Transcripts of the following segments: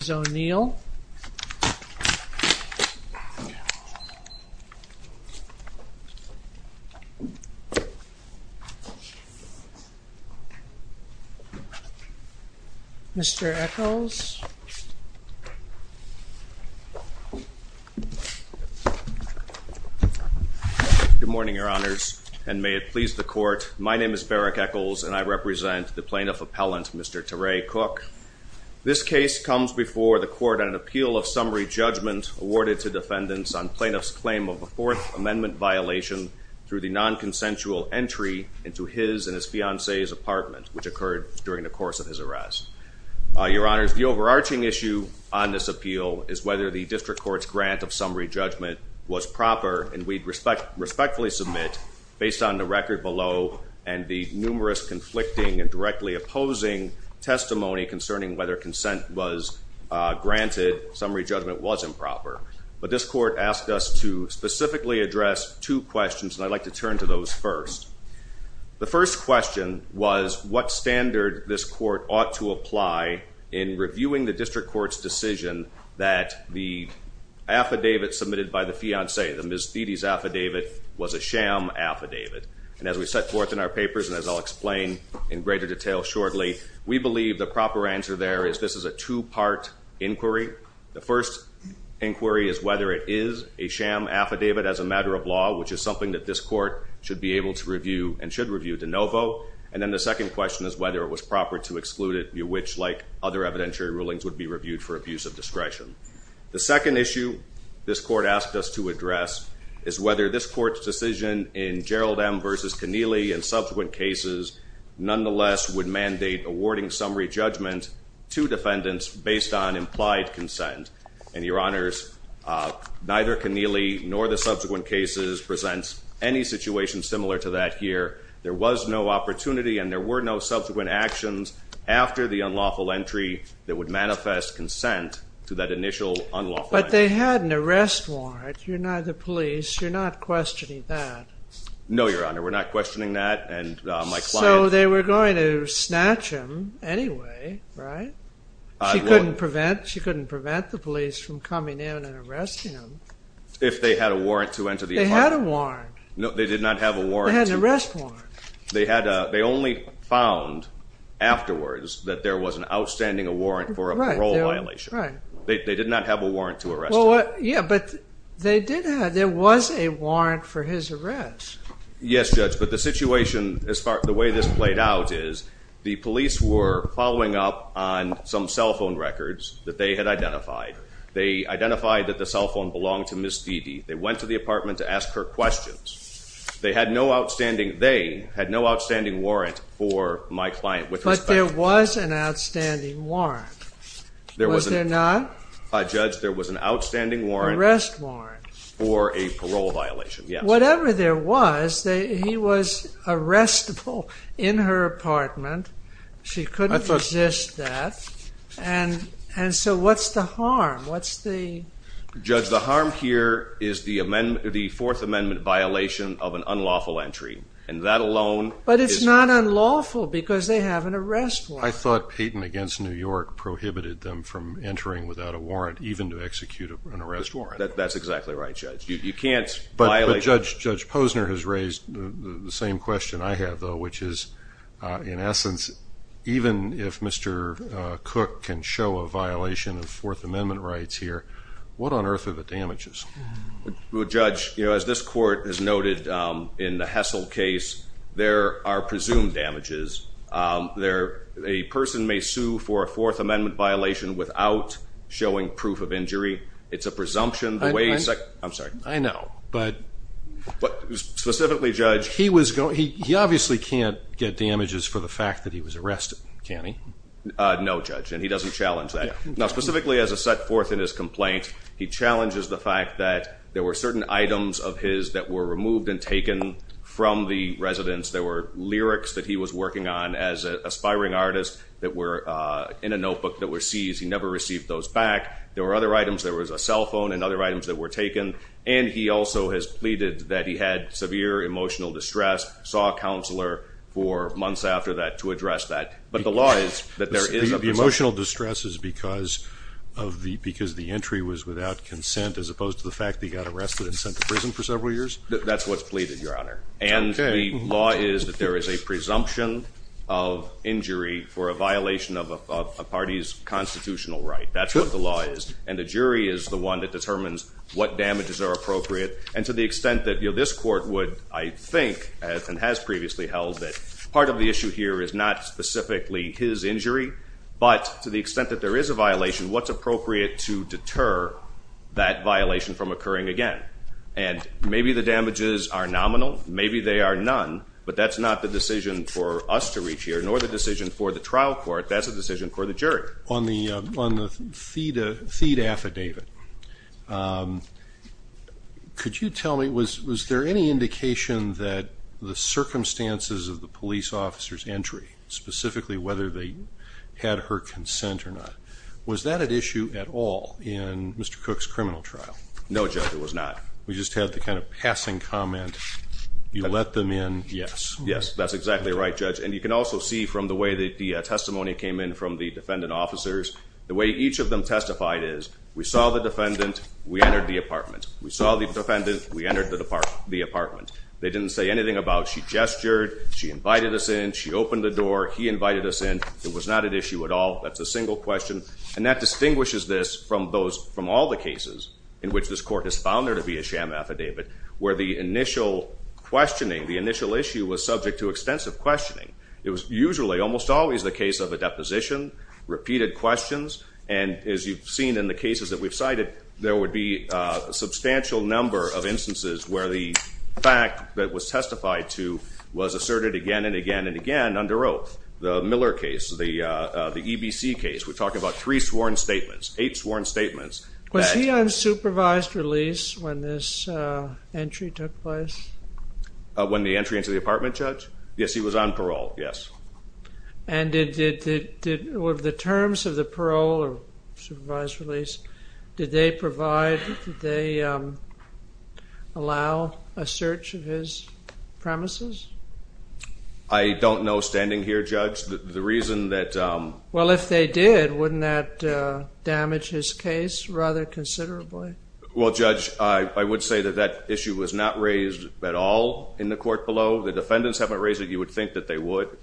Mr. Echols Good morning, your honors, and may it please the court. My name is Barak Echols, and I represent the plaintiff appellant, Mr. Terez Cook. This case comes before the court on an appeal of summary judgment awarded to defendants on plaintiff's claim of a Fourth Amendment violation through the non-consensual entry into his and his fiancée's apartment, which occurred during the course of his arrest. Your honors, the overarching issue on this appeal is whether the district court's grant of summary judgment was proper, and we'd respectfully submit, based on the record below and the concerning whether consent was granted, summary judgment was improper. But this court asked us to specifically address two questions, and I'd like to turn to those first. The first question was what standard this court ought to apply in reviewing the district court's decision that the affidavit submitted by the fiancée, the Ms. Dede's affidavit, was a sham affidavit. And as we set forth in our papers, and as I'll explain in greater detail shortly, we believe the proper answer there is this is a two-part inquiry. The first inquiry is whether it is a sham affidavit as a matter of law, which is something that this court should be able to review and should review de novo. And then the second question is whether it was proper to exclude it, which, like other evidentiary rulings, would be reviewed for abuse of discretion. The second issue this court asked us to address is whether this court's decision in Gerald M. v. Connealy and subsequent cases nonetheless would mandate awarding summary judgment to defendants based on implied consent. And Your Honors, neither Connealy nor the subsequent cases presents any situation similar to that here. There was no opportunity and there were no subsequent actions after the unlawful entry that would manifest consent to that initial unlawful entry. But they had an arrest warrant. You're not the police. You're not questioning that. No, Your Honor. We're not questioning that. And my client... So they were going to snatch him anyway, right? She couldn't prevent the police from coming in and arresting him. If they had a warrant to enter the apartment. They had a warrant. No, they did not have a warrant. They had an arrest warrant. They only found afterwards that there was an outstanding warrant for a parole violation. Right. They did not have a warrant to arrest him. Yeah, but they did have... There was a warrant for his arrest. Yes, Judge. But the situation, the way this played out is the police were following up on some cell phone records that they had identified. They identified that the cell phone belonged to Ms. Dede. They went to the apartment to ask her questions. They had no outstanding... They had no outstanding warrant for my client with respect to... But there was an outstanding warrant. Was there not? Judge, there was an outstanding warrant... Arrest warrant. For a parole violation, yes. Whatever there was, he was arrestable in her apartment. She couldn't resist that. And so what's the harm? What's the... Judge, the harm here is the Fourth Amendment violation of an unlawful entry. And that alone is... But it's not unlawful because they have an arrest warrant. I thought Peyton against New York prohibited them from entering without a warrant, even to execute an arrest warrant. That's exactly right, Judge. You can't violate... But Judge Posner has raised the same question I have, though, which is, in essence, even if Mr. Cook can show a violation of Fourth Amendment rights here, what on earth are the damages? Well, Judge, as this court has noted in the Hessel case, there are presumed damages. There... A person may sue for a Fourth Amendment violation without showing proof of injury. It's a presumption. The way... I'm sorry. I know. But... But specifically, Judge... He was going... He obviously can't get damages for the fact that he was arrested, can he? No, Judge. And he doesn't challenge that. Now, specifically as a set forth in his complaint, he challenges the fact that there were certain items of his that were removed and taken from the residence. There were lyrics that he was working on as an aspiring artist that were in a notebook that were seized. He never received those back. There were other items. There was a cell phone and other items that were taken. And he also has pleaded that he had severe emotional distress, saw a counselor for months after that to address that. But the law is that there is a presumption. The emotional distress is because of the... Because the entry was without consent as opposed to the fact that he got arrested and sent to prison for several years? That's what's pleaded, Your Honor. Okay. The law is that there is a presumption of injury for a violation of a party's constitutional right. That's what the law is. And the jury is the one that determines what damages are appropriate. And to the extent that this court would, I think, and has previously held that part of the issue here is not specifically his injury, but to the extent that there is a violation, what's appropriate to deter that violation from occurring again? And maybe the damages are nominal. Maybe they are none. But that's not the decision for us to reach here, nor the decision for the trial court. That's a decision for the jury. On the Theda affidavit, could you tell me, was there any indication that the circumstances of the police officer's entry, specifically whether they had her consent or not, was that an issue at all in Mr. Cook's criminal trial? No, Judge. It was not. We just had the kind of passing comment. You let them in. Yes. Yes. That's exactly right, Judge. And you can also see from the way that the testimony came in from the defendant officers, the way each of them testified is, we saw the defendant. We entered the apartment. We saw the defendant. We entered the apartment. They didn't say anything about she gestured. She invited us in. She opened the door. He invited us in. It was not an issue at all. That's a single question. And that distinguishes this from all the cases in which this court has found her to be a sham affidavit, where the initial questioning, the initial issue was subject to extensive questioning. It was usually, almost always, the case of a deposition, repeated questions. And as you've seen in the cases that we've cited, there would be a substantial number of instances where the fact that was testified to was asserted again and again and again under oath. The Miller case, the EBC case, we're talking about three sworn statements, eight sworn statements. Was he on supervised release when this entry took place? When the entry into the apartment, Judge? Yes, he was on parole. Yes. And did, with the terms of the parole or supervised release, did they provide, did they allow a search of his premises? I don't know standing here, Judge. The reason that... Well, if they did, wouldn't that damage his case rather considerably? Well, Judge, I would say that that issue was not raised at all in the court below. The defendants haven't raised it. You would think that they would,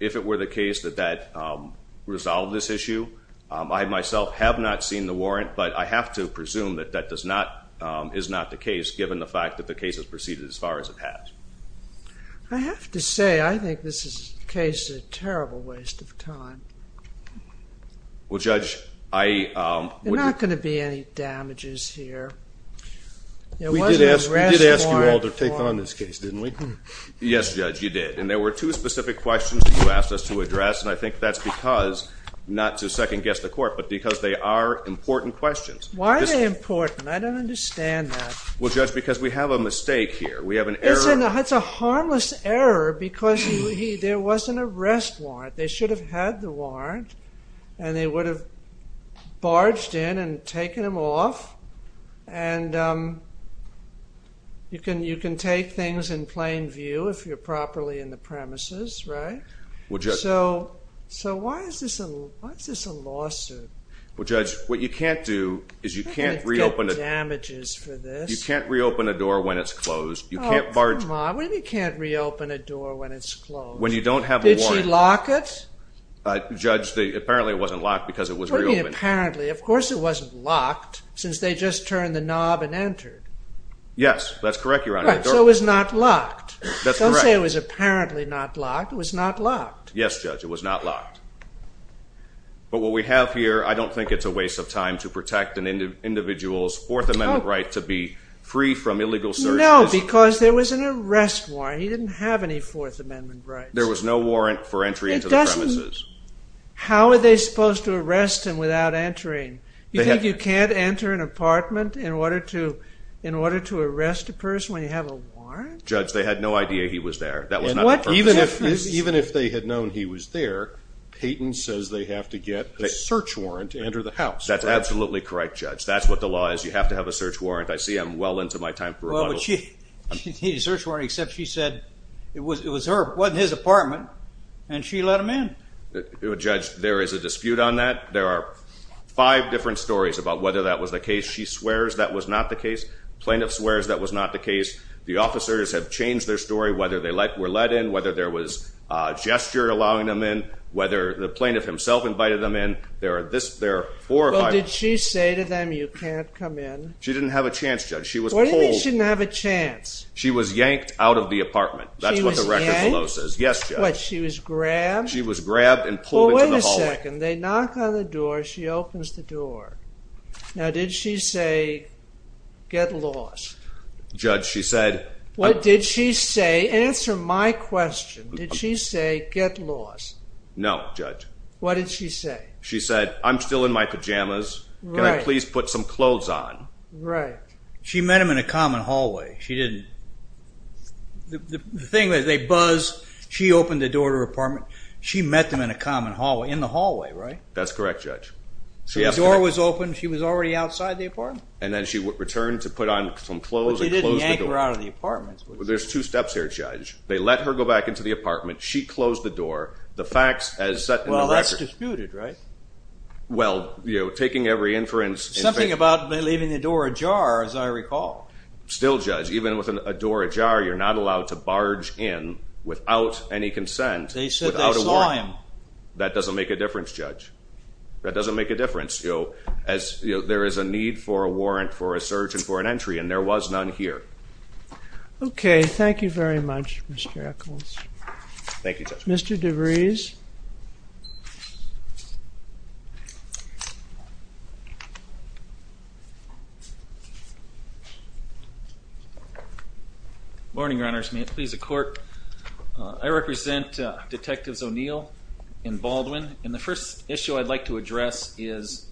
if it were the case that that resolved this issue. I myself have not seen the warrant, but I have to presume that that is not the case, given the fact that the case has proceeded as far as it has. I have to say, I think this is a case of terrible waste of time. Well, Judge, I... There are not going to be any damages here. We did ask you all to take on this case, didn't we? Yes, Judge, you did. And there were two specific questions that you asked us to address. And I think that's because, not to second-guess the court, but because they are important questions. Why are they important? I don't understand that. Well, Judge, because we have a mistake here. We have an error. It's a harmless error, because there was an arrest warrant. They should have had the warrant, and they would have barged in and taken him off. And you can take things in plain view if you're properly in the premises, right? Well, Judge... So why is this a lawsuit? Well, Judge, what you can't do is you can't reopen... I don't want to get damages for this. You can't reopen a door when it's closed. Oh, come on. What do you mean you can't reopen a door when it's closed? When you don't have a warrant. Did she lock it? Judge, apparently it wasn't locked, because it was reopened. What do you mean apparently? Of course it wasn't locked, since they just turned the knob and entered. Yes, that's correct, Your Honor. Right, so it was not locked. That's correct. Don't say it was apparently not locked. It was not locked. Yes, Judge, it was not locked. But what we have here, I don't think it's a waste of time to protect an individual's right to be free from illegal searches. No, because there was an arrest warrant. He didn't have any Fourth Amendment rights. There was no warrant for entry into the premises. How are they supposed to arrest him without entering? You think you can't enter an apartment in order to arrest a person when you have a warrant? Judge, they had no idea he was there. Even if they had known he was there, Peyton says they have to get a search warrant to enter the house. That's absolutely correct, Judge. That's what the law is. You have to have a search warrant. I see I'm well into my time for rebuttal. Well, but she needed a search warrant except she said it was her, wasn't his apartment, and she let him in. Judge, there is a dispute on that. There are five different stories about whether that was the case. She swears that was not the case. The plaintiff swears that was not the case. The officers have changed their story, whether they were let in, whether there was a gesture allowing them in, whether the plaintiff himself invited them in. There are four or five. What did she say to them, you can't come in? She didn't have a chance, Judge. What do you mean she didn't have a chance? She was yanked out of the apartment. She was yanked? That's what the record below says. Yes, Judge. What, she was grabbed? She was grabbed and pulled into the hallway. Well, wait a second. They knock on the door. She opens the door. Now, did she say, get lost? Judge, she said... What did she say? Answer my question. Did she say, get lost? No, Judge. What did she say? She said, I'm still in my pajamas. Can I please put some clothes on? Right. She met him in a common hallway. She didn't... The thing is, they buzz, she opened the door to her apartment. She met them in a common hallway, in the hallway, right? That's correct, Judge. So the door was open, she was already outside the apartment? And then she returned to put on some clothes and closed the door. But she didn't yank her out of the apartment. There's two steps here, Judge. They let her go back into the apartment. She closed the door. The facts as set in the record... Well, you know, taking every inference... Something about leaving the door ajar, as I recall. Still, Judge, even with a door ajar, you're not allowed to barge in without any consent. They said they saw him. That doesn't make a difference, Judge. That doesn't make a difference. There is a need for a warrant for a search and for an entry, and there was none here. Okay, thank you very much, Mr. Eccles. Thank you, Judge. Mr. DeVries? Thank you. Good morning, Your Honors. May it please the Court. I represent Detectives O'Neill and Baldwin. And the first issue I'd like to address is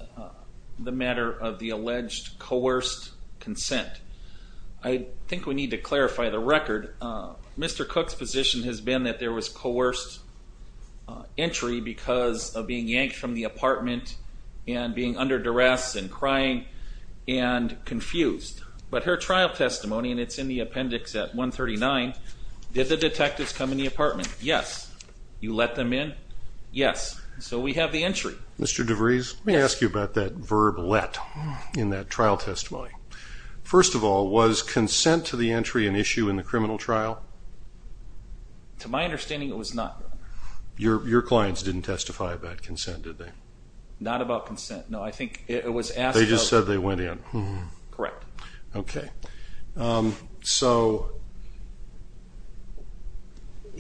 the matter of the alleged coerced consent. I think we need to clarify the record. Mr. Cook's position has been that there was coerced entry because of being yanked from the apartment and being under duress and crying and confused. But her trial testimony, and it's in the appendix at 139, did the detectives come in the apartment? Yes. You let them in? Yes. So we have the entry. Mr. DeVries, let me ask you about that verb, let, in that trial testimony. First of all, was consent to the entry an issue in the criminal trial? To my understanding, it was not. Your clients didn't testify about consent, did they? Not about consent. No, I think it was asked. They just said they went in. Correct. Okay. So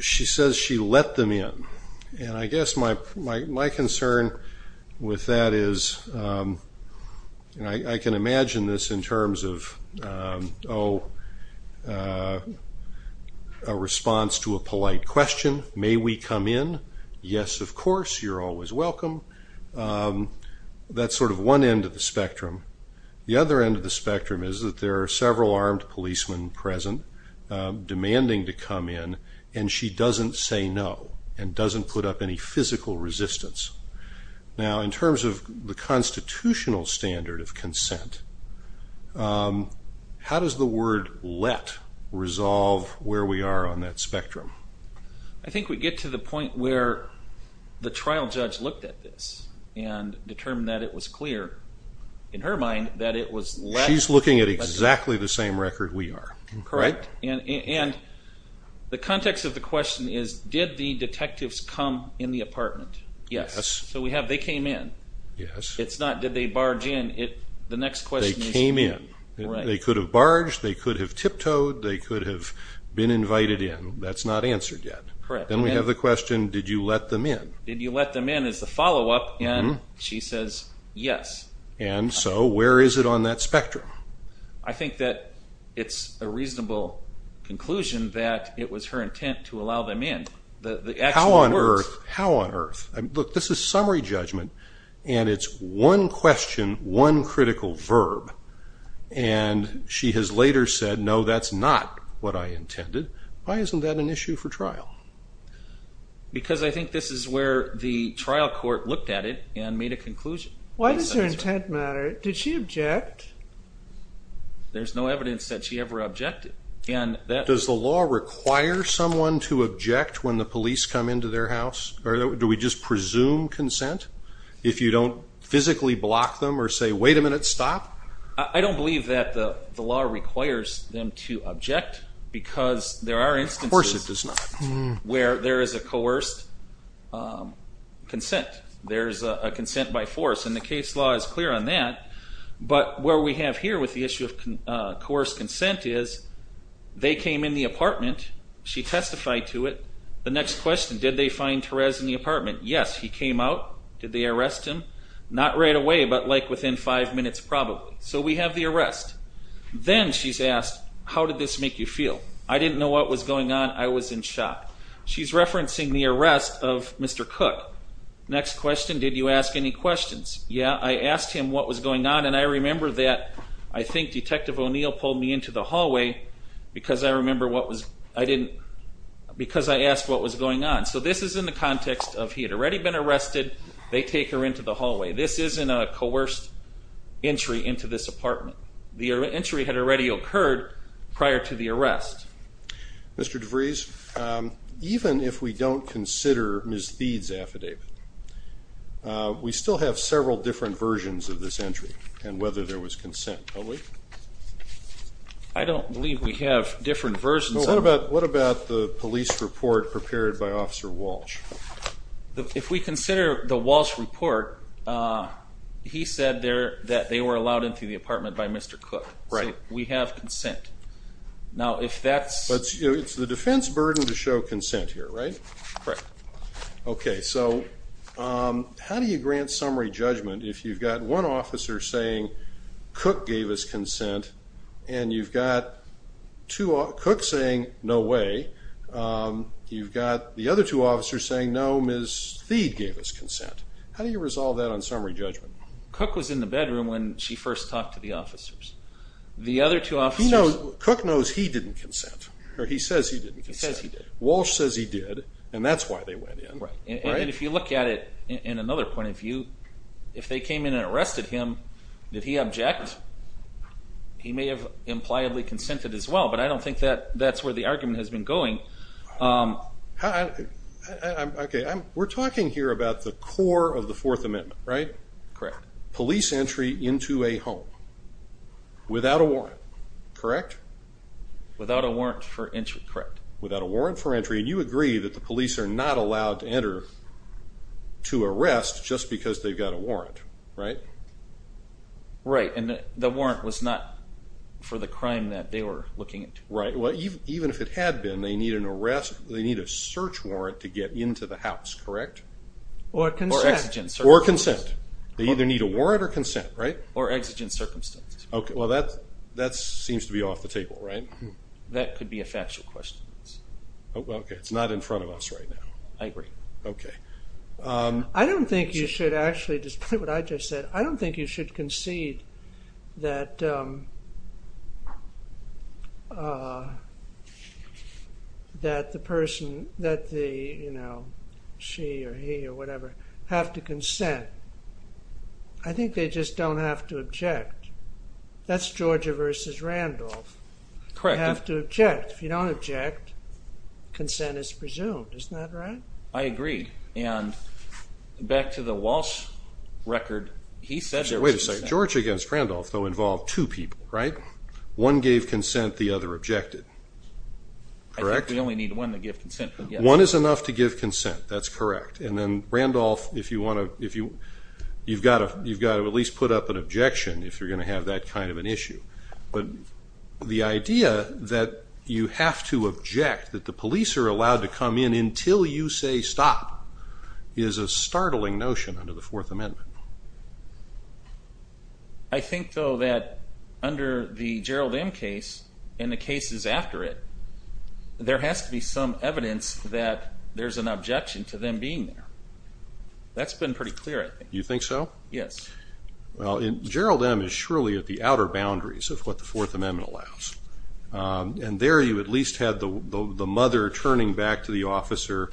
she says she let them in. And I guess my concern with that is, I can imagine this in terms of, you know, a response to a polite question. May we come in? Yes, of course. You're always welcome. That's sort of one end of the spectrum. The other end of the spectrum is that there are several armed policemen present demanding to come in, and she doesn't say no, and doesn't put up any physical resistance. Now, in terms of the constitutional standard of consent, how does the word let resolve where we are on that spectrum? I think we get to the point where the trial judge looked at this and determined that it was clear, in her mind, that it was let. She's looking at exactly the same record we are. Correct. And the context of the question is, did the detectives come in the apartment? Yes. So we have, they came in. Yes. It's not, did they barge in? The next question is. They came in. Right. They could have barged. They could have tiptoed. They could have been invited in. That's not answered yet. Correct. Then we have the question, did you let them in? Did you let them in is the follow-up, and she says yes. And so where is it on that spectrum? I think that it's a reasonable conclusion that it was her intent to allow them in. How on earth? How on earth? Look, this is summary judgment, and it's one question, one critical verb. And she has later said, no, that's not what I intended. Why isn't that an issue for trial? Because I think this is where the trial court looked at it and made a conclusion. Why does her intent matter? Did she object? There's no evidence that she ever objected. Does the law require someone to object when the police come into their house? Do we just presume consent if you don't physically block them or say, wait a minute, stop? I don't believe that the law requires them to object because there are instances where there is a coerced consent. There's a consent by force, and the case law is clear on that. But where we have here with the issue of coerced consent is they came in the apartment. She testified to it. The next question, did they find Therese in the apartment? Yes, he came out. Did they arrest him? Not right away, but like within five minutes probably. So we have the arrest. Then she's asked, how did this make you feel? I didn't know what was going on. I was in shock. She's referencing the arrest of Mr. Cook. Next question, did you ask any questions? Yeah, I asked him what was going on, and I remember that I think Detective O'Neill pulled me into the hallway because I asked what was going on. So this is in the context of he had already been arrested. They take her into the hallway. This isn't a coerced entry into this apartment. The entry had already occurred prior to the arrest. Mr. DeVries, even if we don't consider Ms. Thede's affidavit, we still have several different versions of this entry and whether there was consent, don't we? I don't believe we have different versions. What about the police report prepared by Officer Walsh? If we consider the Walsh report, he said that they were allowed into the apartment by Mr. Cook. So we have consent. Now if that's... It's the defense burden to show consent here, right? Right. Okay, so how do you grant summary judgment if you've got one officer saying, Cook gave us consent, and you've got Cook saying, no way. You've got the other two officers saying, no, Ms. Thede gave us consent. How do you resolve that on summary judgment? Cook was in the bedroom when she first talked to the officers. The other two officers... Cook knows he didn't consent, or he says he didn't consent. Walsh says he did, and that's why they went in. And if you look at it in another point of view, if they came in and arrested him, did he object? He may have impliedly consented as well, but I don't think that's where the argument has been going. We're talking here about the core of the Fourth Amendment, right? Correct. Police entry into a home. Without a warrant, correct? Without a warrant for entry, correct. Without a warrant for entry, and you agree that the police are not allowed to enter to arrest just because they've got a warrant, right? Right, and the warrant was not for the crime that they were looking into. Right, well, even if it had been, they need an arrest, they need a search warrant to get into the house, correct? Or consent. Or consent. They either need a warrant or consent, right? Or exigent circumstances. Okay, well, that seems to be off the table, right? That could be a factual question. Okay, it's not in front of us right now. I agree. Okay. I don't think you should actually, despite what I just said, I don't think you should concede that that the person, that the, you know, she or he or whatever have to consent. I think they just don't have to object. That's Georgia versus Randolph. Correct. You have to object. If you don't object, consent is presumed. Isn't that right? I agree. And back to the Walsh record, he said there was consent. Wait a second. Georgia against Randolph, though, involved two people, right? One gave consent, the other objected, correct? I think we only need one to give consent. One is enough to give consent, that's correct. And then Randolph, if you want to, you've got to at least put up an objection if you're going to have that kind of an issue. But the idea that you have to object, that the police are allowed to come in until you say stop, is a startling notion under the Fourth Amendment. I think, though, that under the Gerald M. case and the cases after it, there has to be some evidence that there's an objection to them being there. That's been pretty clear, I think. You think so? Yes. Well, Gerald M. is surely at the outer boundaries of what the Fourth Amendment allows. And there you at least had the mother turning back to the officer,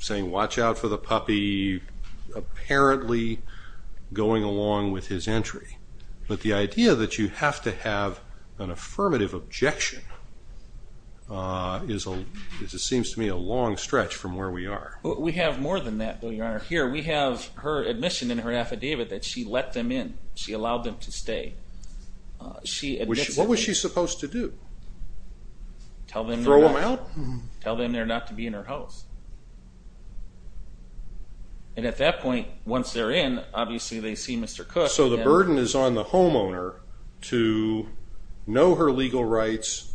saying watch out for the puppy, apparently going along with his entry. But the idea that you have to have an affirmative objection is, it seems to me, a long stretch from where we are. We have more than that, Bill, Your Honor. Here we have her admission in her affidavit that she let them in. She allowed them to stay. What was she supposed to do? Throw them out? Tell them they're not to be in her house. And at that point, once they're in, obviously they see Mr. Cook. So the burden is on the homeowner to know her legal rights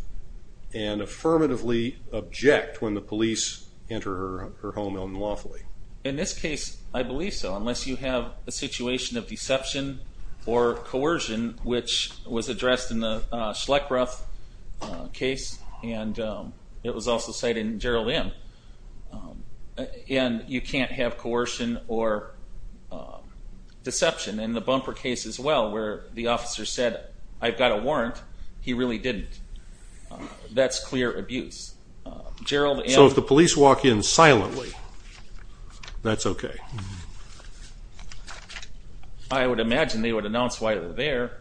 and affirmatively object when the police enter her home unlawfully. In this case, I believe so. Unless you have a situation of deception or coercion, which was addressed in the Schleckroth case, and it was also cited in Gerald M., and you can't have coercion or deception. In the Bumper case as well, where the officer said, I've got a warrant, he really didn't. That's clear abuse. So if the police walk in silently, that's okay? I would imagine they would announce why they're there.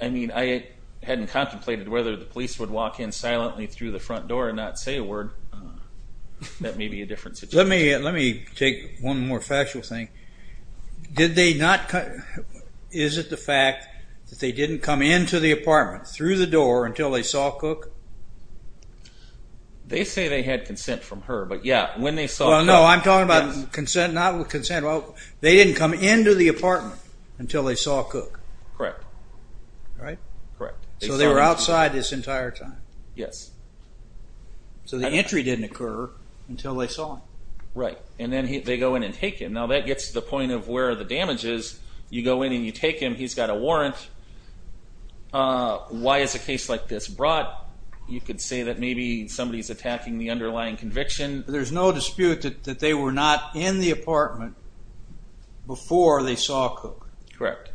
I mean, I hadn't contemplated whether the police would walk in silently through the front door and not say a word. That may be a different situation. Let me take one more factual thing. Did they not... Is it the fact that they didn't come into the apartment through the door until they saw Cook? They say they had consent from her, but yeah, when they saw Cook... Well, no, I'm talking about consent, not consent. They didn't come into the apartment until they saw Cook. Correct. So they were outside this entire time? Yes. So the entry didn't occur until they saw him. Right, and then they go in and take him. Now that gets to the point of where the damage is. You go in and you take him, he's got a warrant. Why is a case like this brought? You could say that maybe somebody's attacking the underlying conviction. There's no dispute that they were not in the apartment before they saw Cook. Correct.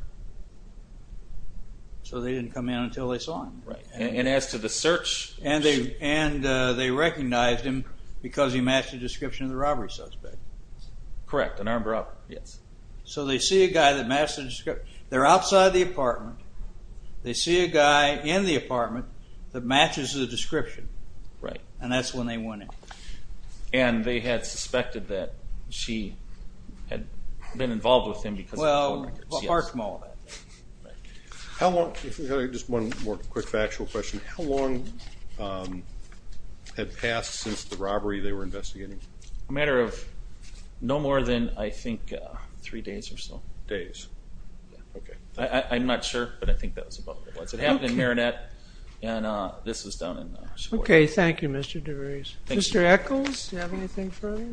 So they didn't come in until they saw him. And as to the search... And they recognized him because he matched the description of the robbery suspect. Correct, an armed robber. So they see a guy that matches the description. They're outside the apartment. They see a guy in the apartment that matches the description. Right. And that's when they went in. And they had suspected that she had been involved with him because of the court records. Well, apart from all that. How long... Just one more quick factual question. How long had passed since the robbery they were investigating? A matter of no more than, I think, three days or so. Days. I'm not sure, but I think that was about what it was. It happened in Marinette, and this was done in... Okay, thank you, Mr. DeVries. Mr. Echols, do you have anything further?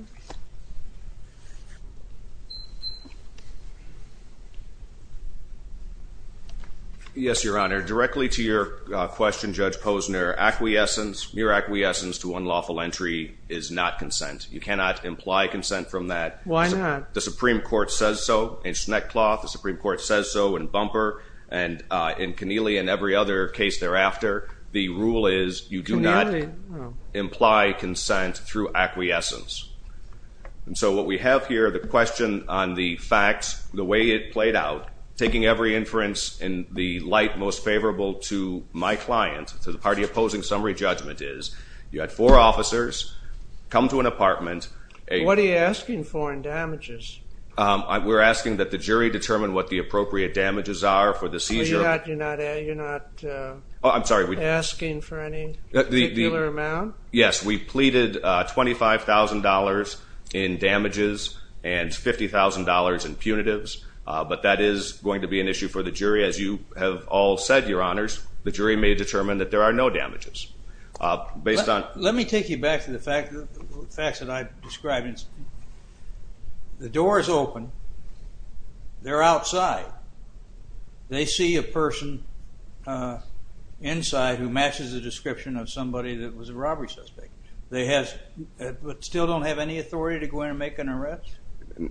Yes, Your Honor. Directly to your question, Judge Posner. Acquiescence, mere acquiescence to unlawful entry is not consent. You cannot imply consent from that. Why not? The Supreme Court says so in Schneckcloth. The Supreme Court says so in Bumper and in Keneally and every other case thereafter. The rule is you do not... Keneally? ...imply consent through acquiescence. And so what we have here, the question on the facts, the way it played out, taking every inference in the light most favorable to my client, to the party opposing summary judgment, is you had four officers come to an apartment... What are you asking for in damages? We're asking that the jury determine what the appropriate damages are for the seizure. You're not asking for any particular amount? Yes. We pleaded $25,000 in damages and $50,000 in punitives but that is going to be an issue for the jury. As you have all said, Your Honors, the jury may determine that there are no damages. Let me take you back to the facts that I described. The door is open. They're outside. They see a person inside who matches the description of somebody that was a robbery suspect. They still don't have any authority to go in and make an arrest?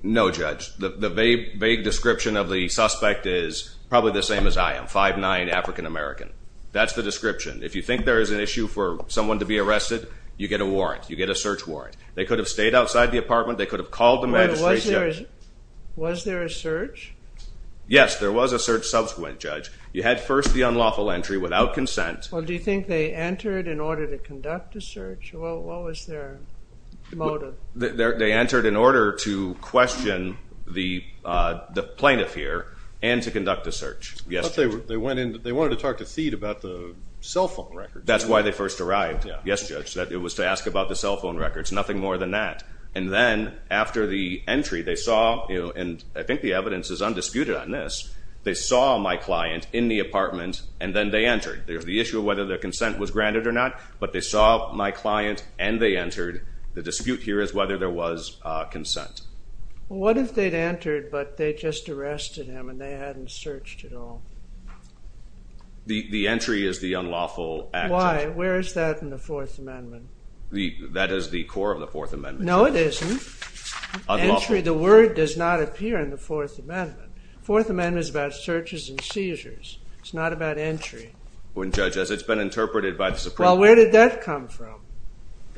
No, Judge. The vague description of the suspect is probably the same as I am, 5'9", African-American. That's the description. If you think there is an issue for someone to be arrested, you get a search warrant. They could have stayed outside the apartment. They could have called the magistrate. Was there a search? Yes, there was a search subsequent, Judge. You had first the unlawful entry without consent. Do you think they entered in order to conduct a search? What was their motive? They entered in order to question the plaintiff here and to conduct a search. They wanted to talk to Thede about the cell phone records. That's why they first arrived. It was to ask about the cell phone records. Nothing more than that. Then, after the entry, they saw my client in the apartment, and then they entered. There was the issue of whether their consent was granted or not, but they saw my client and they entered. The dispute here is whether there was consent. What if they'd entered, but they just arrested him and they hadn't searched at all? The entry is the unlawful action. Why? Where is that in the 4th Amendment? That is the core of the 4th Amendment. No, it isn't. The word does not appear in the 4th Amendment. The 4th Amendment is about searches and seizures. It's not about entry. It's been interpreted by the Supreme Court. Where did that come from?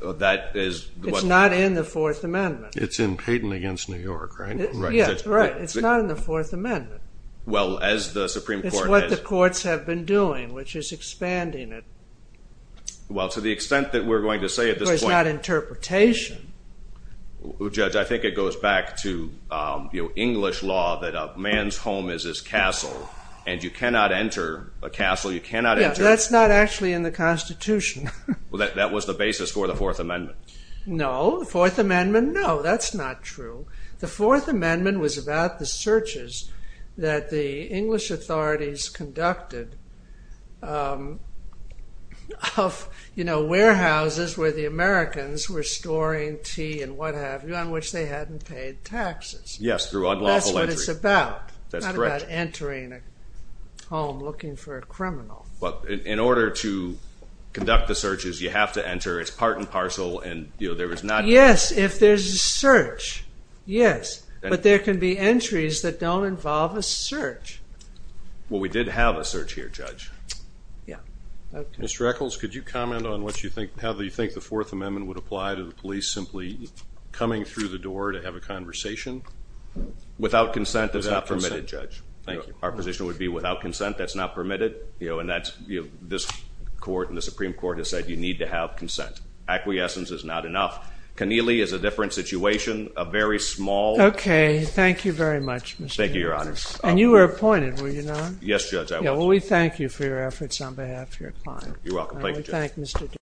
It's not in the 4th Amendment. It's in Peyton v. New York, right? Right. It's not in the 4th Amendment. It's what the courts have been doing, which is expanding it. To the extent that we're going to say it's not interpretation. Judge, I think it goes back to English law that a man's home is his castle and you cannot enter a castle. That's not actually in the Constitution. That was the basis for the 4th Amendment. No. The 4th Amendment, no. That's not true. The 4th Amendment was about the searches that the English authorities conducted of warehouses where the Americans were storing tea and what have you on which they hadn't paid taxes. That's what it's about. Not about entering a home looking for a criminal. In order to conduct the searches, you have to enter. It's part and parcel. Yes, if there's a search. Yes. But there can be entries that don't involve a search. We did have a search here, Judge. Mr. Echols, could you comment on how you think the 4th Amendment would apply to the police simply coming through the door to have a conversation? Without consent. That's not permitted, Judge. Our position would be without consent. That's not permitted. The Supreme Court has said you need to have consent. Acquiescence is not enough. Keneally is a different situation. A very small... Thank you very much, Mr. Echols. You were appointed, were you not? Yes, Judge. We thank you for your efforts on behalf of your client. Thank you, Judge.